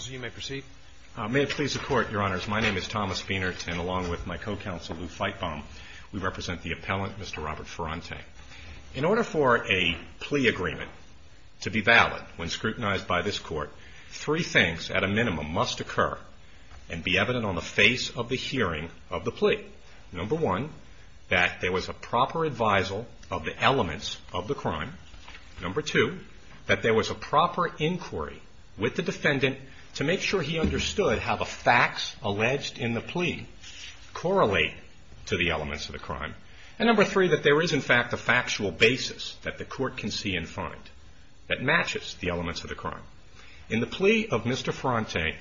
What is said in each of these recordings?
May it please the court, your honors, my name is Thomas Beinert and along with my co-counsel Lou Feitbaum, we represent the appellant Mr. Robert Ferrante. In order for a plea agreement to be valid when scrutinized by this court, three things at a minimum must occur and be evident on the face of the hearing of the plea. Number one, that there was a proper advisal of the elements of the crime. Number two, that there was a proper inquiry with the defendant to make sure he understood how the facts alleged in the plea correlate to the elements of the crime. And number three, that there is in fact a factual basis that the court can see and find that matches the elements of the crime. In the plea of Mr. Ferrante,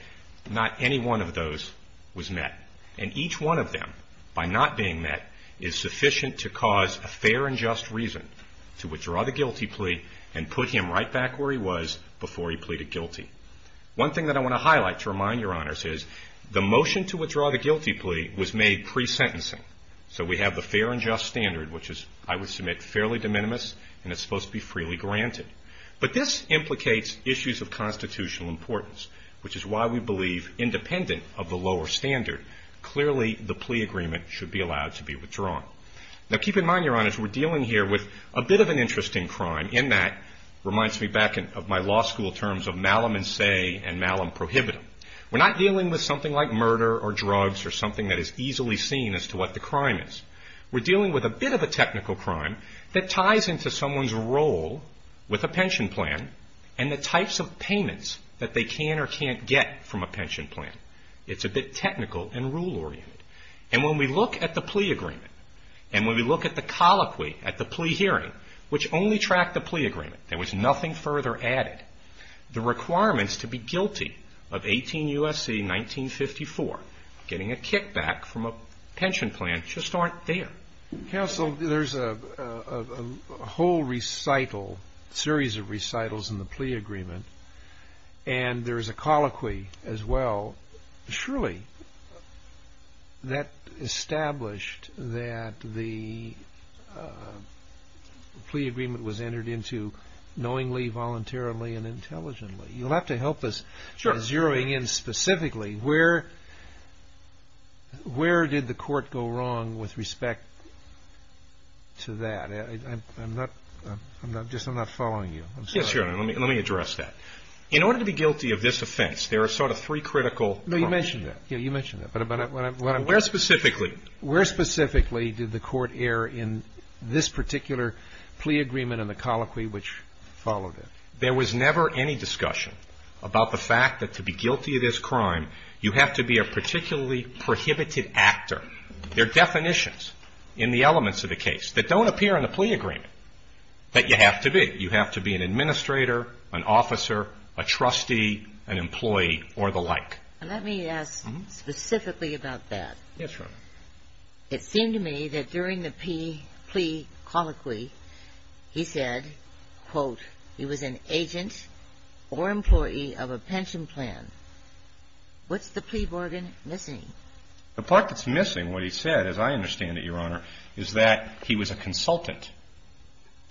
not any one of those was met and each one of them, by not being met, is sufficient to cause a fair and just reason to withdraw the guilty plea and put him right back where he was before he pleaded guilty. One thing that I want to highlight to remind your honors is the motion to withdraw the guilty plea was made pre-sentencing. So we have the fair and just standard which is, I would submit, fairly de minimis and it's supposed to be freely granted. But this implicates issues of constitutional importance, which is why we believe independent of the lower standard, clearly the plea agreement should be allowed to be withdrawn. Now keep in mind, your honors, we're dealing here with a bit of an interesting crime in that, reminds me back of my law school terms of malum in se and malum prohibitum. We're not dealing with something like murder or drugs or something that is easily seen as to what the crime is. We're dealing with a bit of a technical crime that ties into someone's role with a pension plan and the types of payments that they can or can't get from a pension plan. It's a bit technical and rule-oriented. And when we look at the plea agreement and when we look at the colloquy at the plea hearing, which only tracked the plea agreement, there was nothing further added, the requirements to be guilty of 18 U.S.C. 1954, getting a kickback from a pension plan, just aren't there. Counsel, there's a whole recital, series of recitals in the plea agreement and there's a colloquy as well. Surely that established that the plea agreement was entered into knowingly, voluntarily, and intelligently. You'll have to help us zeroing in specifically. Where did the court go wrong with respect to that? I'm not following you. Yes, Your Honor. Let me address that. In order to be guilty of this offense, there are sort of three critical... No, you mentioned that. You mentioned that. Where specifically? Where specifically did the court err in this particular plea agreement and the colloquy which followed it? There was never any discussion about the fact that to be guilty of this crime, you have to be a particularly prohibited actor. There are definitions in the elements of the case that don't appear in the plea agreement that you have to be. You have to be an administrator, an officer, a trustee, an employee, or the like. Let me ask specifically about that. Yes, Your Honor. It seemed to me that during the plea colloquy, he said, quote, he was an agent or employee of a pension plan. What's the plea bargain missing? The part that's missing, what he said, as I understand it, Your Honor, is that he was a consultant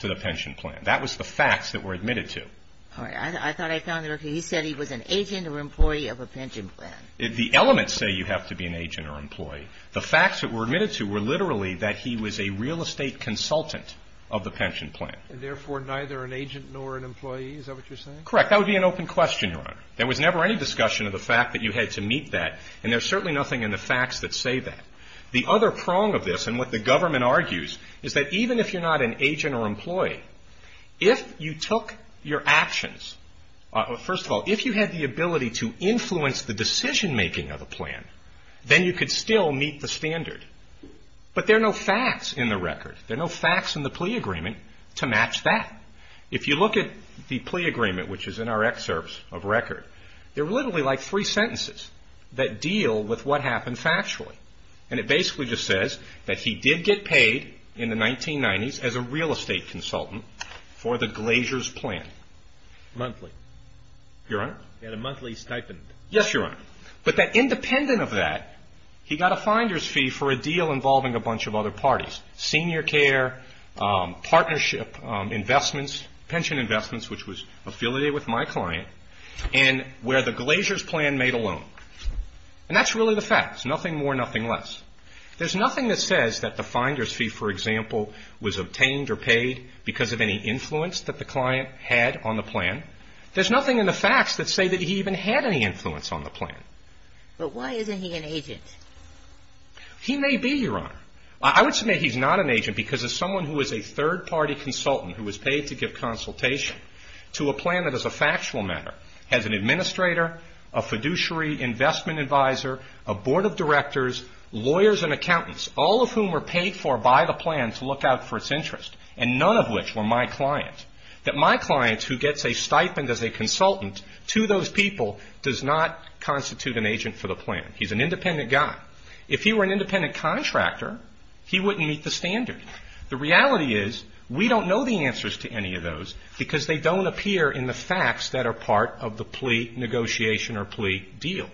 to the pension plan. That was the facts that were admitted to. All right. I thought I found it okay. He said he was an agent or employee of a pension plan. The elements say you have to be an agent or employee. The facts that were admitted to were literally that he was a real estate consultant of the pension plan. And therefore, neither an agent nor an employee? Is that what you're saying? Correct. That would be an open question, Your Honor. There was never any discussion of the facts that say that. The other prong of this, and what the government argues, is that even if you're not an agent or employee, if you took your actions, first of all, if you had the ability to influence the decision-making of a plan, then you could still meet the standard. But there are no facts in the record. There are no facts in the plea agreement to match that. If you look at the plea agreement, which is in our excerpts of record, they're literally like three sentences that deal with what happened factually. And it basically just says that he did get paid in the 1990s as a real estate consultant for the Glacier's plan. Monthly. Your Honor? He had a monthly stipend. Yes, Your Honor. But that independent of that, he got a finder's fee for a deal involving a bunch of other parties, senior care, partnership investments, pension investments, which was Glacier's plan made alone. And that's really the facts. Nothing more, nothing less. There's nothing that says that the finder's fee, for example, was obtained or paid because of any influence that the client had on the plan. There's nothing in the facts that say that he even had any influence on the plan. But why isn't he an agent? He may be, Your Honor. I would submit he's not an agent because as someone who is a third-party consultant who was paid to give consultation to a plan that is a factual matter, has an administrator, a fiduciary investment advisor, a board of directors, lawyers and accountants, all of whom were paid for by the plan to look out for its interest, and none of which were my client, that my client who gets a stipend as a consultant to those people does not constitute an agent for the plan. He's an independent guy. If he were an independent contractor, he wouldn't meet the standard. The reality is we don't know the answers to any of those because they don't appear in the facts that are part of the plea negotiation or plea deal.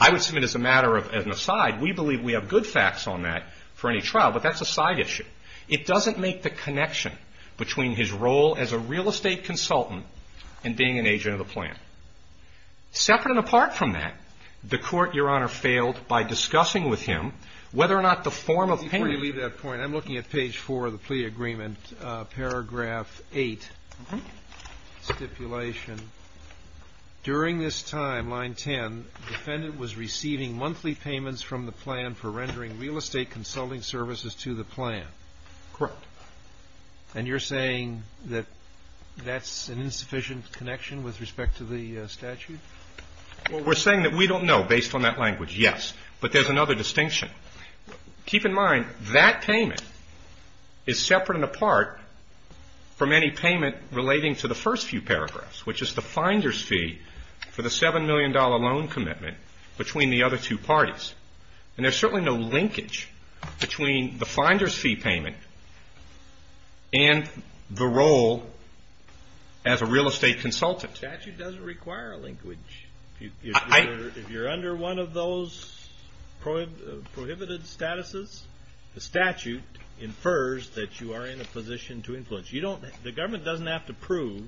I would submit as a matter of an aside, we believe we have good facts on that for any trial, but that's a side issue. It doesn't make the connection between his role as a real estate consultant and being an agent of the plan. Separate and apart from that, the Court, Your Honor, failed by discussing with him whether or not the form of payment Before you leave that point, I'm looking at page 4 of the plea agreement, paragraph 8, stipulation. During this time, line 10, defendant was receiving monthly payments from the plan for rendering real estate consulting services to the plan. Correct. And you're saying that that's an insufficient connection with respect to the statute? Well, we're saying that we don't know based on that language, yes. But there's another distinction. Keep in mind, that payment is separate and apart from any payment relating to the first few paragraphs, which is the finder's fee for the $7 million loan commitment between the other two parties. And there's certainly no linkage between the finder's fee payment and the role as a real estate consultant. The statute doesn't require a linkage. If you're under one of those prohibited statuses, the statute infers that you are in a position to influence. The government doesn't have to prove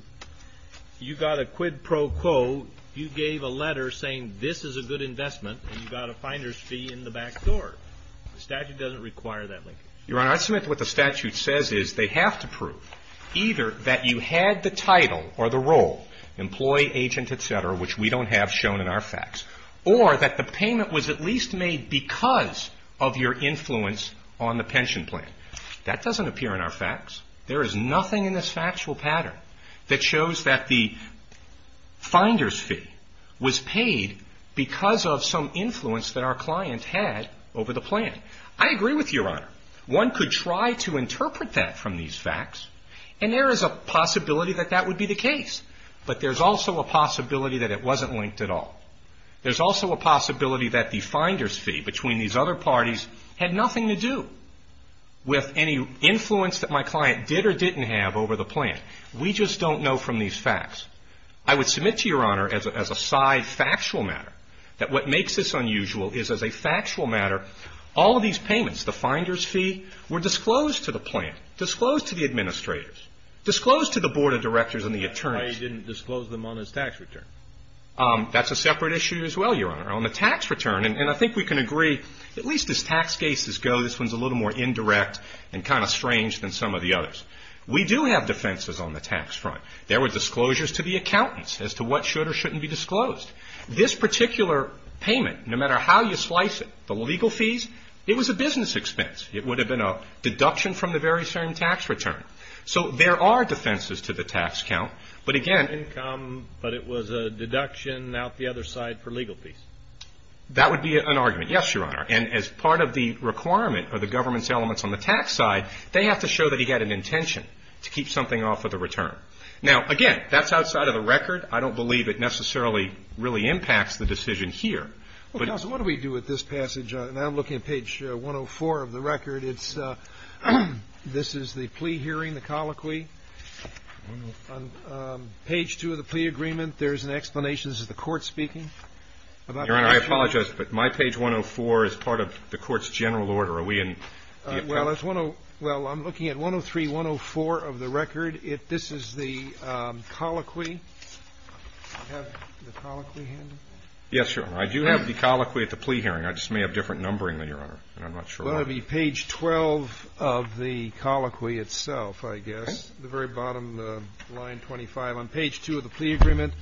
you got a quid pro quo, you gave a letter saying this is a good investment and you got a finder's fee in the back door. The statute doesn't require that linkage. Your Honor, I submit what the statute says is they have to prove either that you had the title or the role, employee, agent, et cetera, which we don't have shown in our facts, or that the payment was at least made because of your influence on the pension plan. That doesn't appear in our facts. There is nothing in this factual pattern that shows that the finder's fee was paid because of some influence that our client had over the plan. I agree with you, Your Honor. One could try to interpret that from these facts, and there is a possibility that that would be the case. But there's also a possibility that it wasn't linked at all. There's also a possibility that the finder's fee between these other parties had nothing to do with any influence that my client did or didn't have over the plan. We just don't know from these facts. I would submit to your Honor, as a side factual matter, that what makes this unusual is as a factual matter, all of these payments, the finder's fee, were disclosed to the plan, disclosed to the administrators, disclosed to the board of directors and the attorneys. Why didn't you disclose them on his tax return? That's a separate issue as well, Your Honor. On the tax return, and I think we can agree, at least as tax cases go, this one's a little more indirect and kind of strange than some of the others. We do have defenses on the tax front. There were disclosures to the accountants as to what should or shouldn't be disclosed. This particular payment, no matter how you slice it, the legal fees, it was a business expense. It would have been a deduction from the very same tax return. So there are defenses to the tax count. But again… Income, but it was a deduction out the other side for legal fees. That would be an argument, yes, Your Honor. And as part of the requirement of the government's elements on the tax side, they have to show that he had an intention to keep something off of the return. Now, again, that's outside of the record. I don't believe it necessarily really impacts the decision here. Well, Counsel, what do we do with this passage? Now I'm looking at page 104 of the record. This is the plea hearing, the colloquy. On page 2 of the plea agreement, there's an explanation. This is the court speaking about the action. Your Honor, I apologize, but my page 104 is part of the court's general order. Are we in… Well, it's 103-104 of the record. This is the colloquy. Do I have the colloquy handy? Yes, Your Honor. I do have the colloquy at the plea hearing. I just may have different numbering there, Your Honor, and I'm not sure why. Well, it would be page 12 of the colloquy itself, I guess, the very bottom line 25. On page 2 of the plea agreement,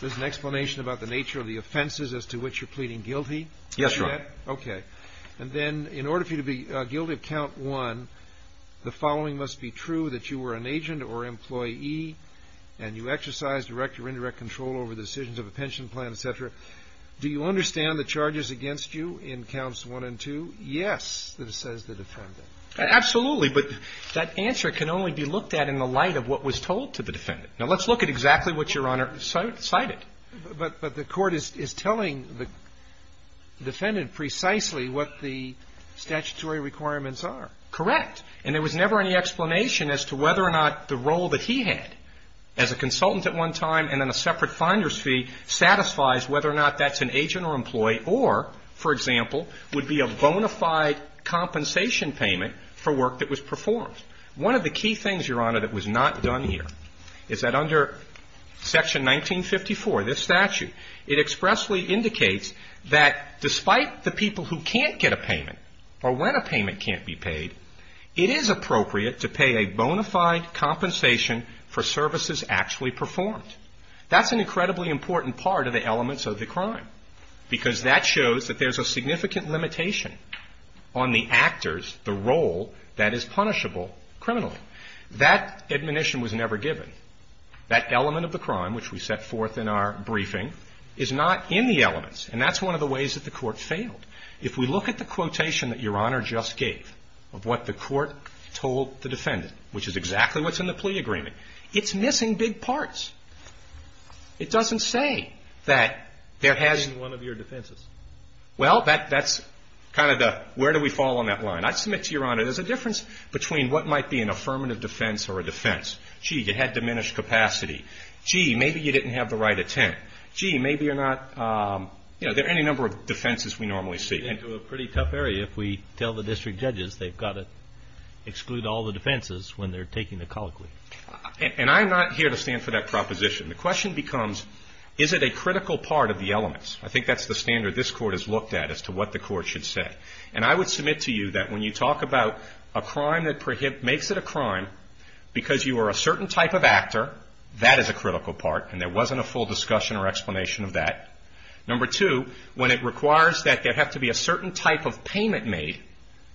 there's an explanation about the nature of the offenses as to which you're pleading guilty. Yes, Your Honor. Okay. And then, in order for you to be guilty of count 1, the following must be true, that you were an agent or employee, and you exercised direct or indirect control over the decisions of a pension plan, et cetera. Do you understand the charges against you in counts 1 and 2? Yes, that it says the defendant. Absolutely. But that answer can only be looked at in the light of what was told to the defendant. Now, let's look at exactly what Your Honor cited. But the court is telling the defendant precisely what the statutory requirements are. Correct. And there was never any explanation as to whether or not the role that he had as a consultant at one time and then a separate finder's fee satisfies whether or not that's an agent or employee or, for example, would be a bona fide compensation payment for work that was performed. One of the key things, Your Honor, that was not done here is that under Section 1954, this statute, it expressly indicates that despite the people who can't get a payment or when a payment can't be paid, it is appropriate to pay a bona fide compensation for services actually performed. That's an incredibly important part of the elements of the crime because that shows that there's a significant limitation on the actors, the role that is punishable criminally. That admonition was never given. That element of the crime, which we set forth in our briefing, is not in the elements. And that's one of the ways that the court failed. If we look at the quotation that Your Honor just gave of what the court told the defendant, which is exactly what's in the plea agreement, it's missing big parts. It doesn't say that there has to be one of your defenses. Well, that's kind of the where do we fall on that line. I submit to Your Honor, there's a difference between what might be an affirmative defense or a defense. Gee, you had diminished capacity. Gee, maybe you didn't have the right intent. Gee, maybe you're not, you know, there are any number of defenses we normally see. It's a pretty tough area if we tell the district judges they've got to exclude all the defenses when they're taking the colloquy. And I'm not here to stand for that proposition. The question becomes, is it a critical part of the elements? I think that's the standard this court has looked at as to what the court should say. And I would submit to you that when you talk about a crime that makes it a crime because you are a certain type of actor, that is a critical part and there wasn't a full discussion or explanation of that. Number two, when it requires that there have to be a certain type of payment made,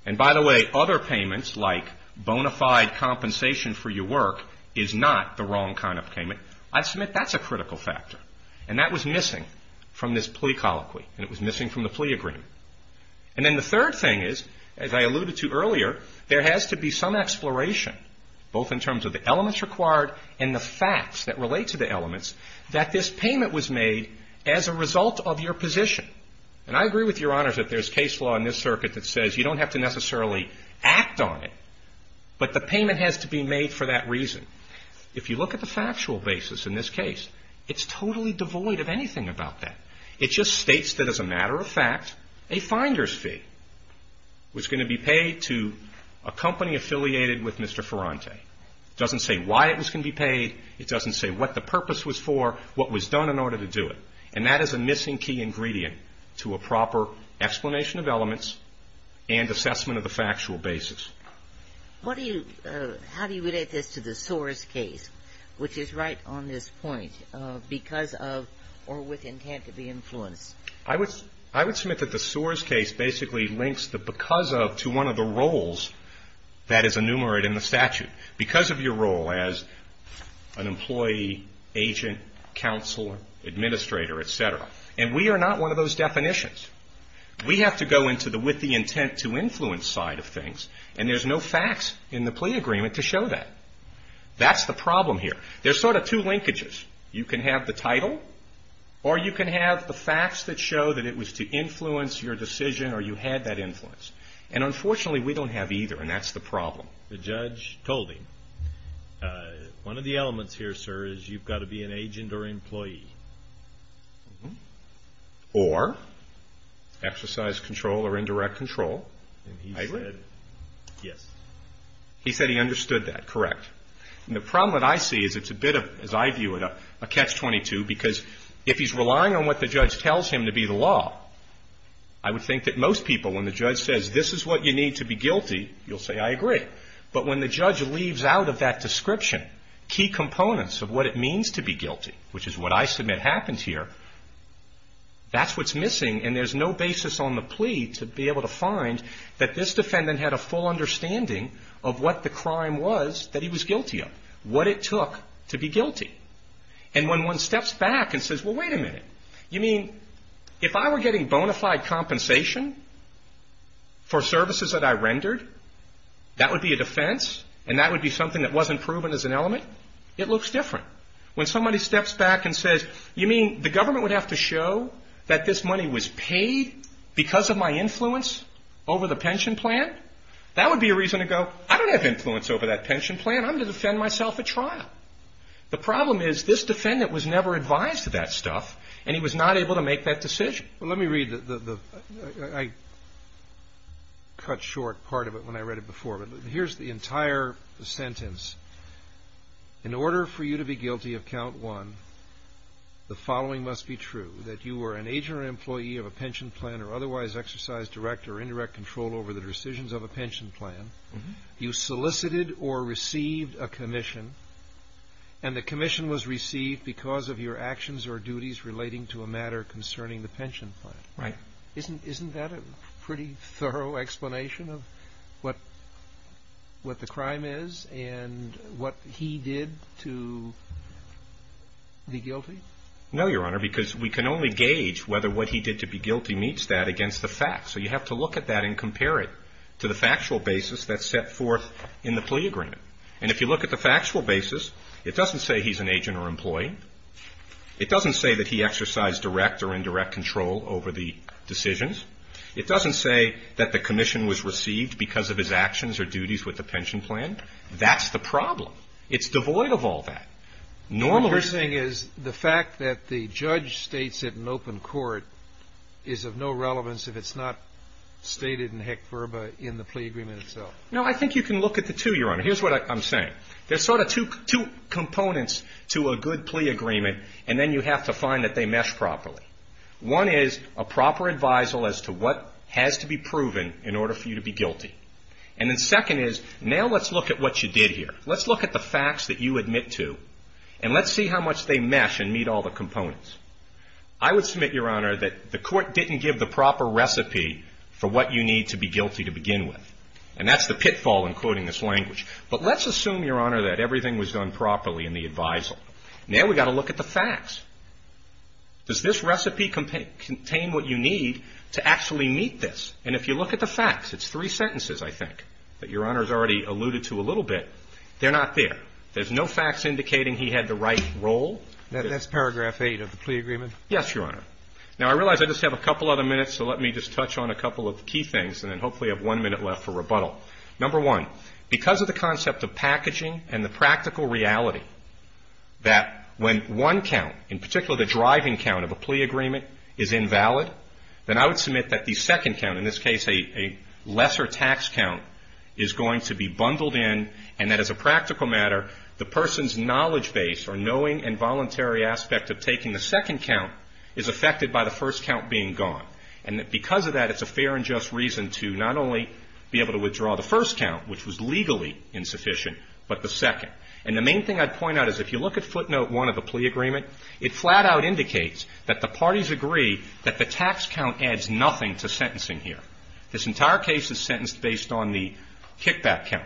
and by the way, other payments like bona fide compensation for your work is not the wrong kind of payment, I submit that's a critical factor. And that was missing from this plea colloquy and it was missing from the plea agreement. And then the third thing is, as I alluded to earlier, there has to be some exploration, both in terms of the elements required and the facts that relate to the elements, that this payment was made as a result of your position. And I agree with Your Honors that there's case law in this circuit that says you don't have to necessarily act on it, but the payment has to be made for that reason. If you look at the factual basis in this case, it's totally devoid of anything about that. It just states that as a matter of fact, a finder's fee was going to be paid to a company affiliated with Mr. Ferrante. It doesn't say why it was going to be paid. It doesn't say what the purpose was for, what was done in order to do it. And that is a missing key ingredient to a proper explanation of elements and assessment of the factual basis. What do you – how do you relate this to the Soares case, which is right on this point, because of or with intent to be influenced? I would – I would submit that the Soares case basically links the because of to one of the roles that is enumerated in the statute, because of your role as an employee, agent, counselor, administrator, et cetera. And we are not one of those definitions. We have to go into the with the intent to influence side of things, and there's no facts in the plea agreement to show that. That's the problem here. There's sort of two linkages. You can have the title, or you can have the facts that show that it was to influence your decision or you had that influence. And unfortunately, we don't have either, and that's the problem. The judge told him. One of the elements here, sir, is you've got to be an agent or employee. Or exercise control or indirect control. I agree. Yes. He said he understood that. Correct. And the problem that I see is it's a bit of – as I view it, a catch-22, because if he's relying on what the judge tells him to be the law, I would think that most people, when the judge says, this is what you need to be guilty, you'll say, I agree. But when the judge leaves out of that description key components of what it means to be guilty, which is what I submit happened here, that's what's missing, and there's no basis on the plea to be able to find that this defendant had a full understanding of what the crime was that he was guilty of, what it took to be guilty. And when one steps back and says, well, wait a minute, you mean if I were getting bona fide compensation for services that I rendered, that would be a defense and that would be something that wasn't proven as an element? It looks different. When somebody steps back and says, you mean the government would have to show that this money was paid because of my influence over the pension plan? That would be a reason to go, I don't have influence over that pension plan. I'm going to defend myself at trial. The problem is this defendant was never advised of that stuff and he was not able to make that decision. Let me read the – I cut short part of it when I read it before, but here's the entire sentence. In order for you to be guilty of count one, the following must be true, that you were an agent or employee of a pension plan or otherwise exercised direct or indirect control over the decisions of a pension plan, you solicited or received a commission, and the commission was received because of your actions or duties relating to a matter concerning the pension plan. Right. Isn't that a pretty thorough explanation of what the crime is and what he did to be guilty? No, Your Honor, because we can only gauge whether what he did to be guilty meets that against the facts. So you have to look at that and compare it to the factual basis that's set forth in the plea agreement. And if you look at the factual basis, it doesn't say he's an agent or employee. It doesn't say that he exercised direct or indirect control over the decisions. It doesn't say that the commission was received because of his actions or duties with the pension plan. That's the problem. It's devoid of all that. The interesting thing is the fact that the judge states it in open court is of no relevance if it's not stated in heck verba in the plea agreement itself. No, I think you can look at the two, Your Honor. Here's what I'm saying. There's sort of two components to a good plea agreement, and then you have to find that they mesh properly. One is a proper advisal as to what has to be proven in order for you to be guilty. And then second is, now let's look at what you did here. Let's look at the facts that you submit to, and let's see how much they mesh and meet all the components. I would submit, Your Honor, that the court didn't give the proper recipe for what you need to be guilty to begin with. And that's the pitfall in quoting this language. But let's assume, Your Honor, that everything was done properly in the advisal. Now we've got to look at the facts. Does this recipe contain what you need to actually meet this? And if you look at the facts, it's three sentences, I think, that Your Honor's already alluded to a little bit. They're not there. There's no facts indicating he had the right role. That's paragraph 8 of the plea agreement? Yes, Your Honor. Now I realize I just have a couple other minutes, so let me just touch on a couple of key things, and then hopefully I have one minute left for rebuttal. Number one, because of the concept of packaging and the practical reality that when one count, in particular the driving count of a plea agreement, is invalid, then I would submit that the second count, in this case a lesser tax count, is going to be bundled in and that as a practical matter, the person's knowledge base or knowing and voluntary aspect of taking the second count is affected by the first count being gone. And that because of that, it's a fair and just reason to not only be able to withdraw the first count, which was legally insufficient, but the second. And the main thing I'd point out is if you look at footnote 1 of the plea agreement, it flat out indicates that the parties agree that the tax count adds nothing to sentencing here. This entire case is sentenced based on the kickback count.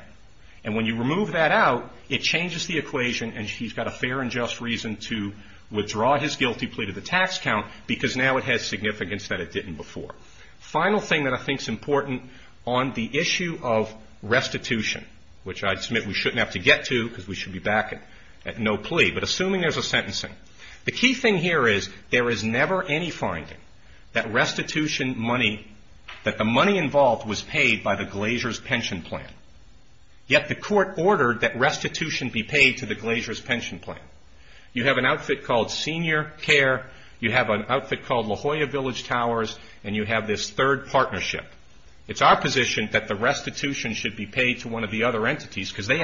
And when you remove that out, it changes the equation and he's got a fair and just reason to withdraw his guilty plea to the tax count because now it has significance that it didn't before. Final thing that I think is important on the issue of restitution, which I'd submit we shouldn't have to get to because we should be back at no plea, but assuming there's a sentencing. The key thing here is there is never any finding that restitution money, that the money involved was paid by the Glacier's pension plan. Yet the court ordered that restitution be paid to the Glacier's pension plan. You have an outfit called Senior Care, you have an outfit called La Jolla Village Towers and you have this third partnership. It's our position that the restitution should be paid to one of the other entities because they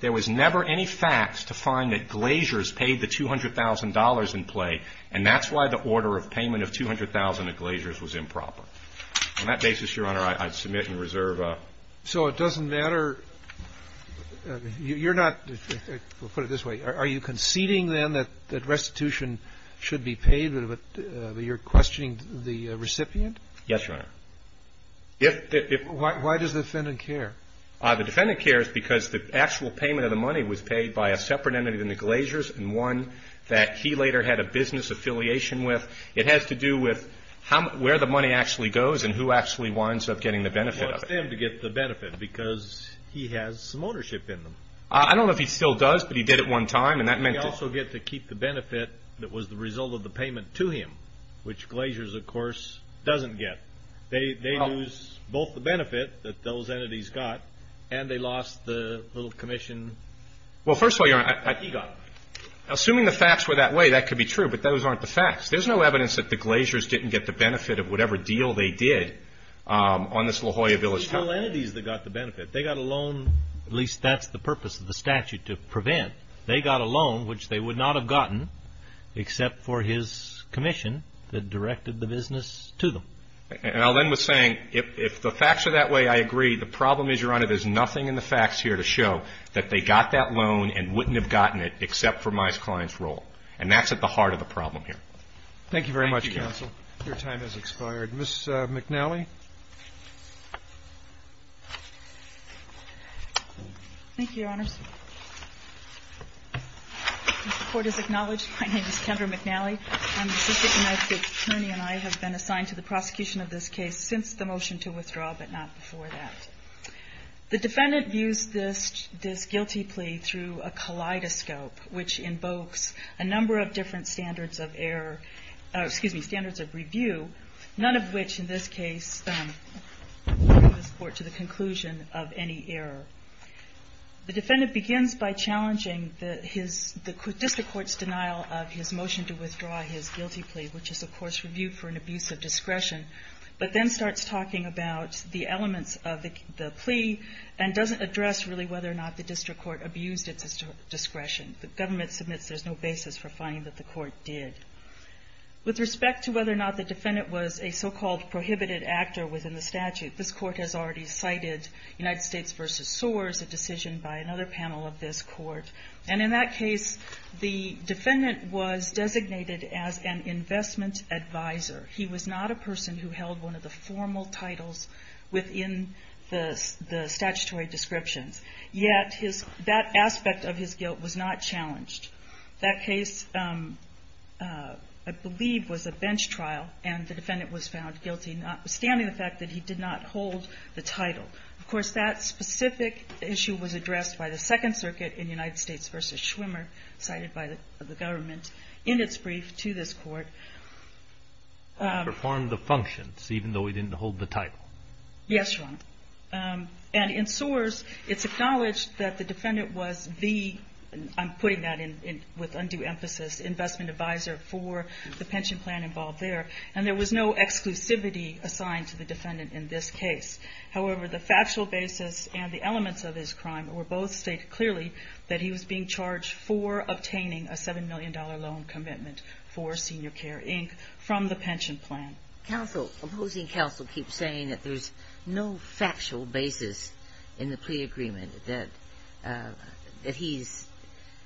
there was never any facts to find that Glacier's paid the $200,000 in play, and that's why the order of payment of $200,000 at Glacier's was improper. On that basis, Your Honor, I submit and reserve. So it doesn't matter. You're not, we'll put it this way, are you conceding then that restitution should be paid, but you're questioning the recipient? Yes, Your Honor. Why does the defendant care? The defendant cares because the actual payment of the money was paid by a separate entity than the Glacier's and one that he later had a business affiliation with. It has to do with where the money actually goes and who actually winds up getting the benefit of it. It was them to get the benefit because he has some ownership in them. I don't know if he still does, but he did at one time and that meant that... He also gets to keep the benefit that was the result of the payment to him, which Glacier's of course doesn't get. They lose both the benefit that those entities got and they lost the little commission that he got. Well, first of all, Your Honor, assuming the facts were that way, that could be true, but those aren't the facts. There's no evidence that the Glacier's didn't get the benefit of whatever deal they did on this La Jolla Village town. It was the two entities that got the benefit. They got a loan, at least that's the purpose of the statute, to prevent. They got a loan, which they would not have gotten except for his commission that directed the business to them. And I'll end with saying, if the facts are that way, I agree. The problem is, Your Honor, there's nothing in the facts here to show that they got that loan and wouldn't have gotten it except for Mies Klein's role. And that's at the heart of the problem here. Thank you very much, counsel. Thank you, counsel. Your time has expired. Ms. McNally? Thank you, Your Honors. As the Court has acknowledged, my name is Kendra McNally. I'm a former assistant United States attorney, and I have been assigned to the prosecution of this case since the motion to withdraw, but not before that. The defendant views this guilty plea through a kaleidoscope, which invokes a number of different standards of error, or, excuse me, standards of review, none of which, in this case, bring this Court to the conclusion of any error. The defendant begins by challenging the district court's denial of his motion to withdraw his guilty plea, which is, of course, reviewed for an abuse of discretion, but then starts talking about the elements of the plea and doesn't address, really, whether or not the district court abused its discretion. The government submits there's no basis for finding that the court did. With respect to whether or not the defendant was a so-called prohibited actor within the statute, that sores a decision by another panel of this Court, and in that case, the defendant was designated as an investment advisor. He was not a person who held one of the formal titles within the statutory descriptions, yet that aspect of his guilt was not challenged. That case, I believe, was a bench trial, and the defendant was found guilty, notwithstanding the fact that he did not hold the title. Of course, that specific issue was addressed by the Second Circuit in United States v. Schwimmer, cited by the government in its brief to this Court. He performed the functions, even though he didn't hold the title. Yes, Your Honor. And in sores, it's acknowledged that the defendant was the, I'm putting that with undue emphasis, investment advisor for the pension plan involved there, and there was no exclusivity assigned to the defendant in this case. However, the factual basis and the elements of his crime were both stated clearly, that he was being charged for obtaining a $7 million loan commitment for Senior Care, Inc., from the pension plan. Counsel, opposing counsel, keep saying that there's no factual basis in the plea agreement that he's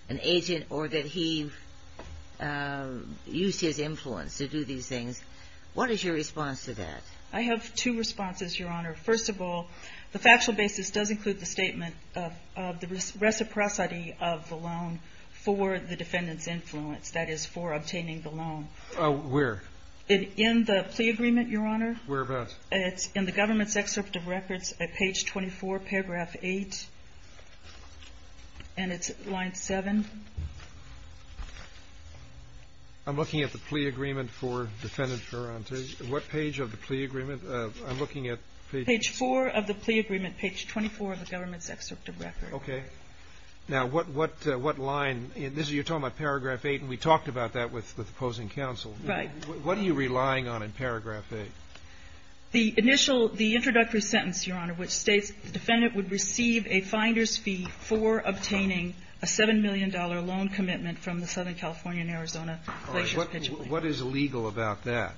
an agent or that he used his influence to do these things. What is your response to that? I have two responses, Your Honor. First of all, the factual basis does include the statement of the reciprocity of the loan for the defendant's influence, that is, for obtaining the loan. Where? In the plea agreement, Your Honor. Whereabouts? It's in the government's excerpt of records at page 24, paragraph 8, and it's line 7. I'm looking at the plea agreement for defendant Ferranti. What page of the plea agreement? I'm looking at page... Page 4 of the plea agreement, page 24 of the government's excerpt of records. Okay. Now, what line? You're talking about paragraph 8, and we talked about that with the opposing counsel. Right. What are you relying on in paragraph 8? The initial – the introductory sentence, Your Honor, which states the defendant would receive a finder's fee for obtaining a $7 million loan commitment from the Southern California and Arizona Placers Pitching Company. All right. What is illegal about that?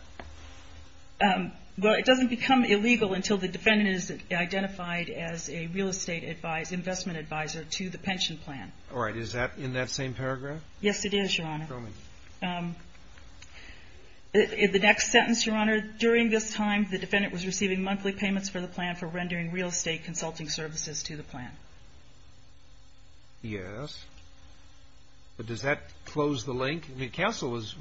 Well, it doesn't become illegal until the defendant is identified as a real estate advisor – investment advisor to the pension plan. All right. Is that in that same paragraph? Yes, it is, Your Honor. Show me. In the next sentence, Your Honor, during this time, the defendant was receiving monthly payments for the plan for rendering real estate consulting services to the plan. Yes. But does that close the link? I mean, counsel was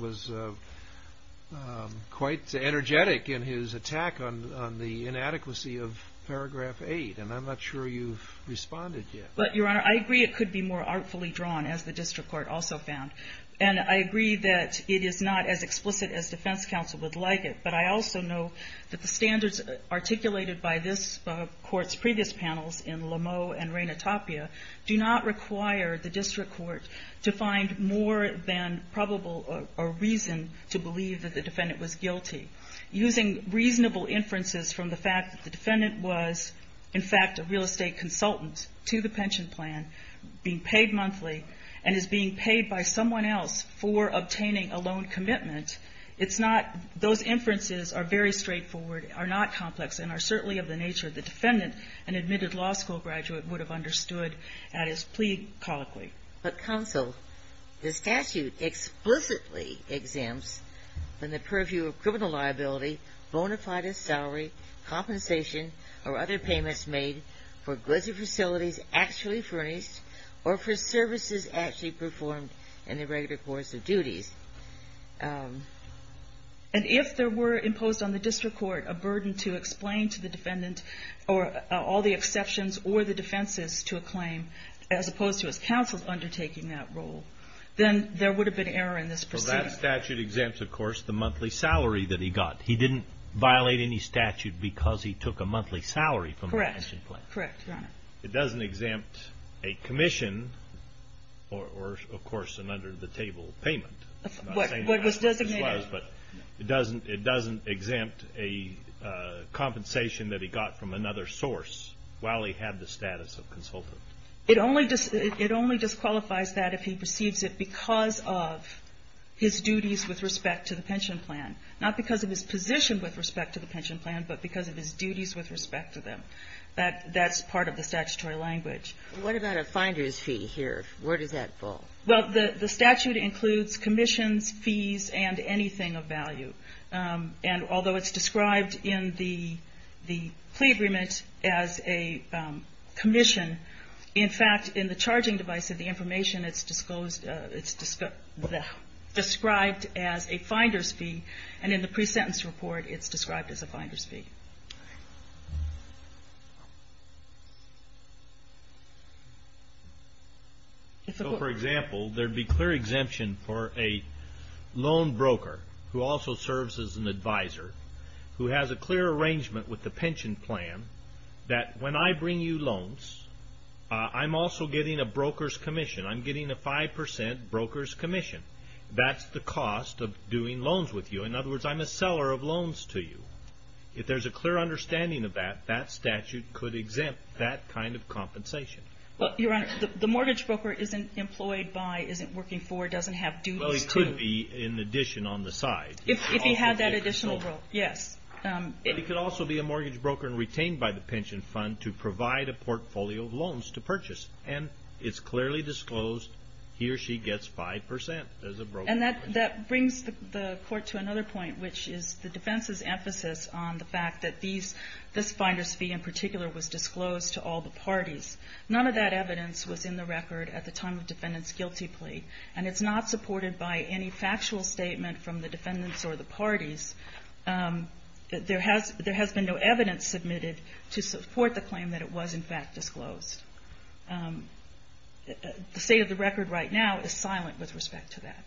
quite energetic in his attack on the inadequacy of paragraph 8, and I'm not sure you've responded yet. But, Your Honor, I agree it could be more artfully drawn, as the district court also found, and I agree that it is not as explicit as defense counsel would like it, but I also know that the standards articulated by this Court's previous panels in Lameau and Reina Tapia do not require the district court to find more than probable a reason to believe that the defendant was guilty. Using reasonable inferences from the fact that the defendant was, in fact, a real for obtaining a loan commitment, it's not — those inferences are very straightforward, are not complex, and are certainly of the nature the defendant, an admitted law school graduate, would have understood at his plea colloquy. But, counsel, the statute explicitly exempts from the purview of criminal liability, bona fide salary, compensation, or other payments made for goods or facilities actually furnished, or for services actually performed in the regular course of duties. And if there were imposed on the district court a burden to explain to the defendant or all the exceptions or the defenses to a claim, as opposed to his counsel undertaking that role, then there would have been error in this proceeding. Well, that statute exempts, of course, the monthly salary that he got. He didn't violate any statute because he took a monthly salary from the pension plan. Correct. Correct, Your Honor. It doesn't exempt a commission, or, of course, an under-the-table payment. What was designated. But it doesn't exempt a compensation that he got from another source while he had the status of consultant. It only disqualifies that if he receives it because of his duties with respect to the pension plan. Not because of his position with respect to the pension plan, but because of his duties with respect to them. That's part of the statutory language. What about a finder's fee here? Where does that fall? Well, the statute includes commissions, fees, and anything of value. And although it's described in the plea agreement as a commission, in fact, in the charging device of the information, it's described as a finder's fee. And in the pre-sentence report, it's described as a finder's fee. So, for example, there'd be clear exemption for a loan broker, who also serves as an advisor, who has a clear arrangement with the pension plan that when I bring you loans, I'm also getting a broker's commission. I'm getting a 5% broker's commission. That's the cost of doing loans with you. In other words, I'm a seller of loans to you. If there's a clear understanding of that, that statute could exempt that kind of compensation. Well, Your Honor, the mortgage broker isn't employed by, isn't working for, doesn't have duties to. Well, he could be in addition on the side. If he had that additional role, yes. But he could also be a mortgage broker and retained by the pension fund to provide a portfolio of loans to purchase. And it's clearly disclosed, he or she gets 5% as a broker's commission. And that brings the Court to another point, which is the defense's emphasis on the fact that these, this finder's fee in particular was disclosed to all the parties. None of that evidence was in the record at the time of defendant's guilty plea. And it's not supported by any factual statement from the defendants or the parties. There has been no evidence submitted to support the claim that it was, in fact, disclosed. The state of the record right now is silent with respect to that.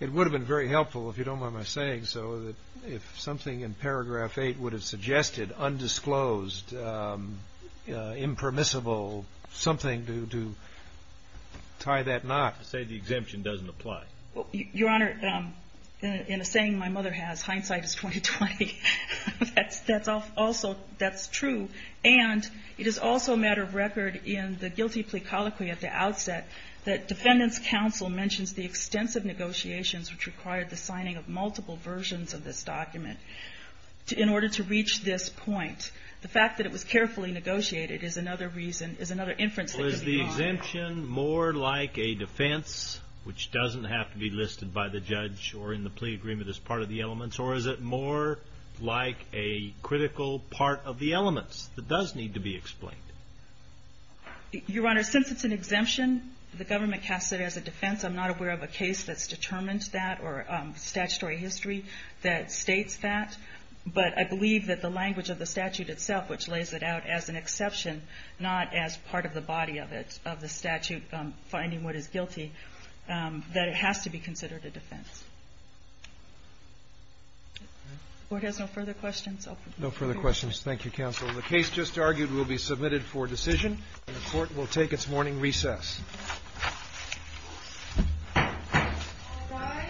It would have been very helpful, if you don't mind my saying so, that if something in paragraph 8 would have suggested undisclosed, impermissible, something to tie that knot. To say the exemption doesn't apply. Well, Your Honor, in a saying my mother has, hindsight is 20-20. That's also, that's true. And it is also a matter of record in the guilty plea colloquy at the outset that defendant's counsel mentions the extensive negotiations which required the signing of multiple versions of this document in order to reach this point. The fact that it was carefully negotiated is another reason, is another inference that could be made. Well, is the exemption more like a defense, which doesn't have to be listed by the judge or in the plea agreement as part of the elements? Or is it more like a critical part of the elements that does need to be explained? Your Honor, since it's an exemption, the government casts it as a defense. I'm not aware of a case that's determined that or statutory history that states that. But I believe that the language of the statute itself, which lays it out as an exception, not as part of the body of it, of the statute finding what is guilty, that it has to be considered a defense. The Court has no further questions? No further questions. Thank you, Counsel. The case just argued will be submitted for decision, and the Court will take its morning recess. All rise. The time of the Court's pending recess. The time of the Court's pending recess.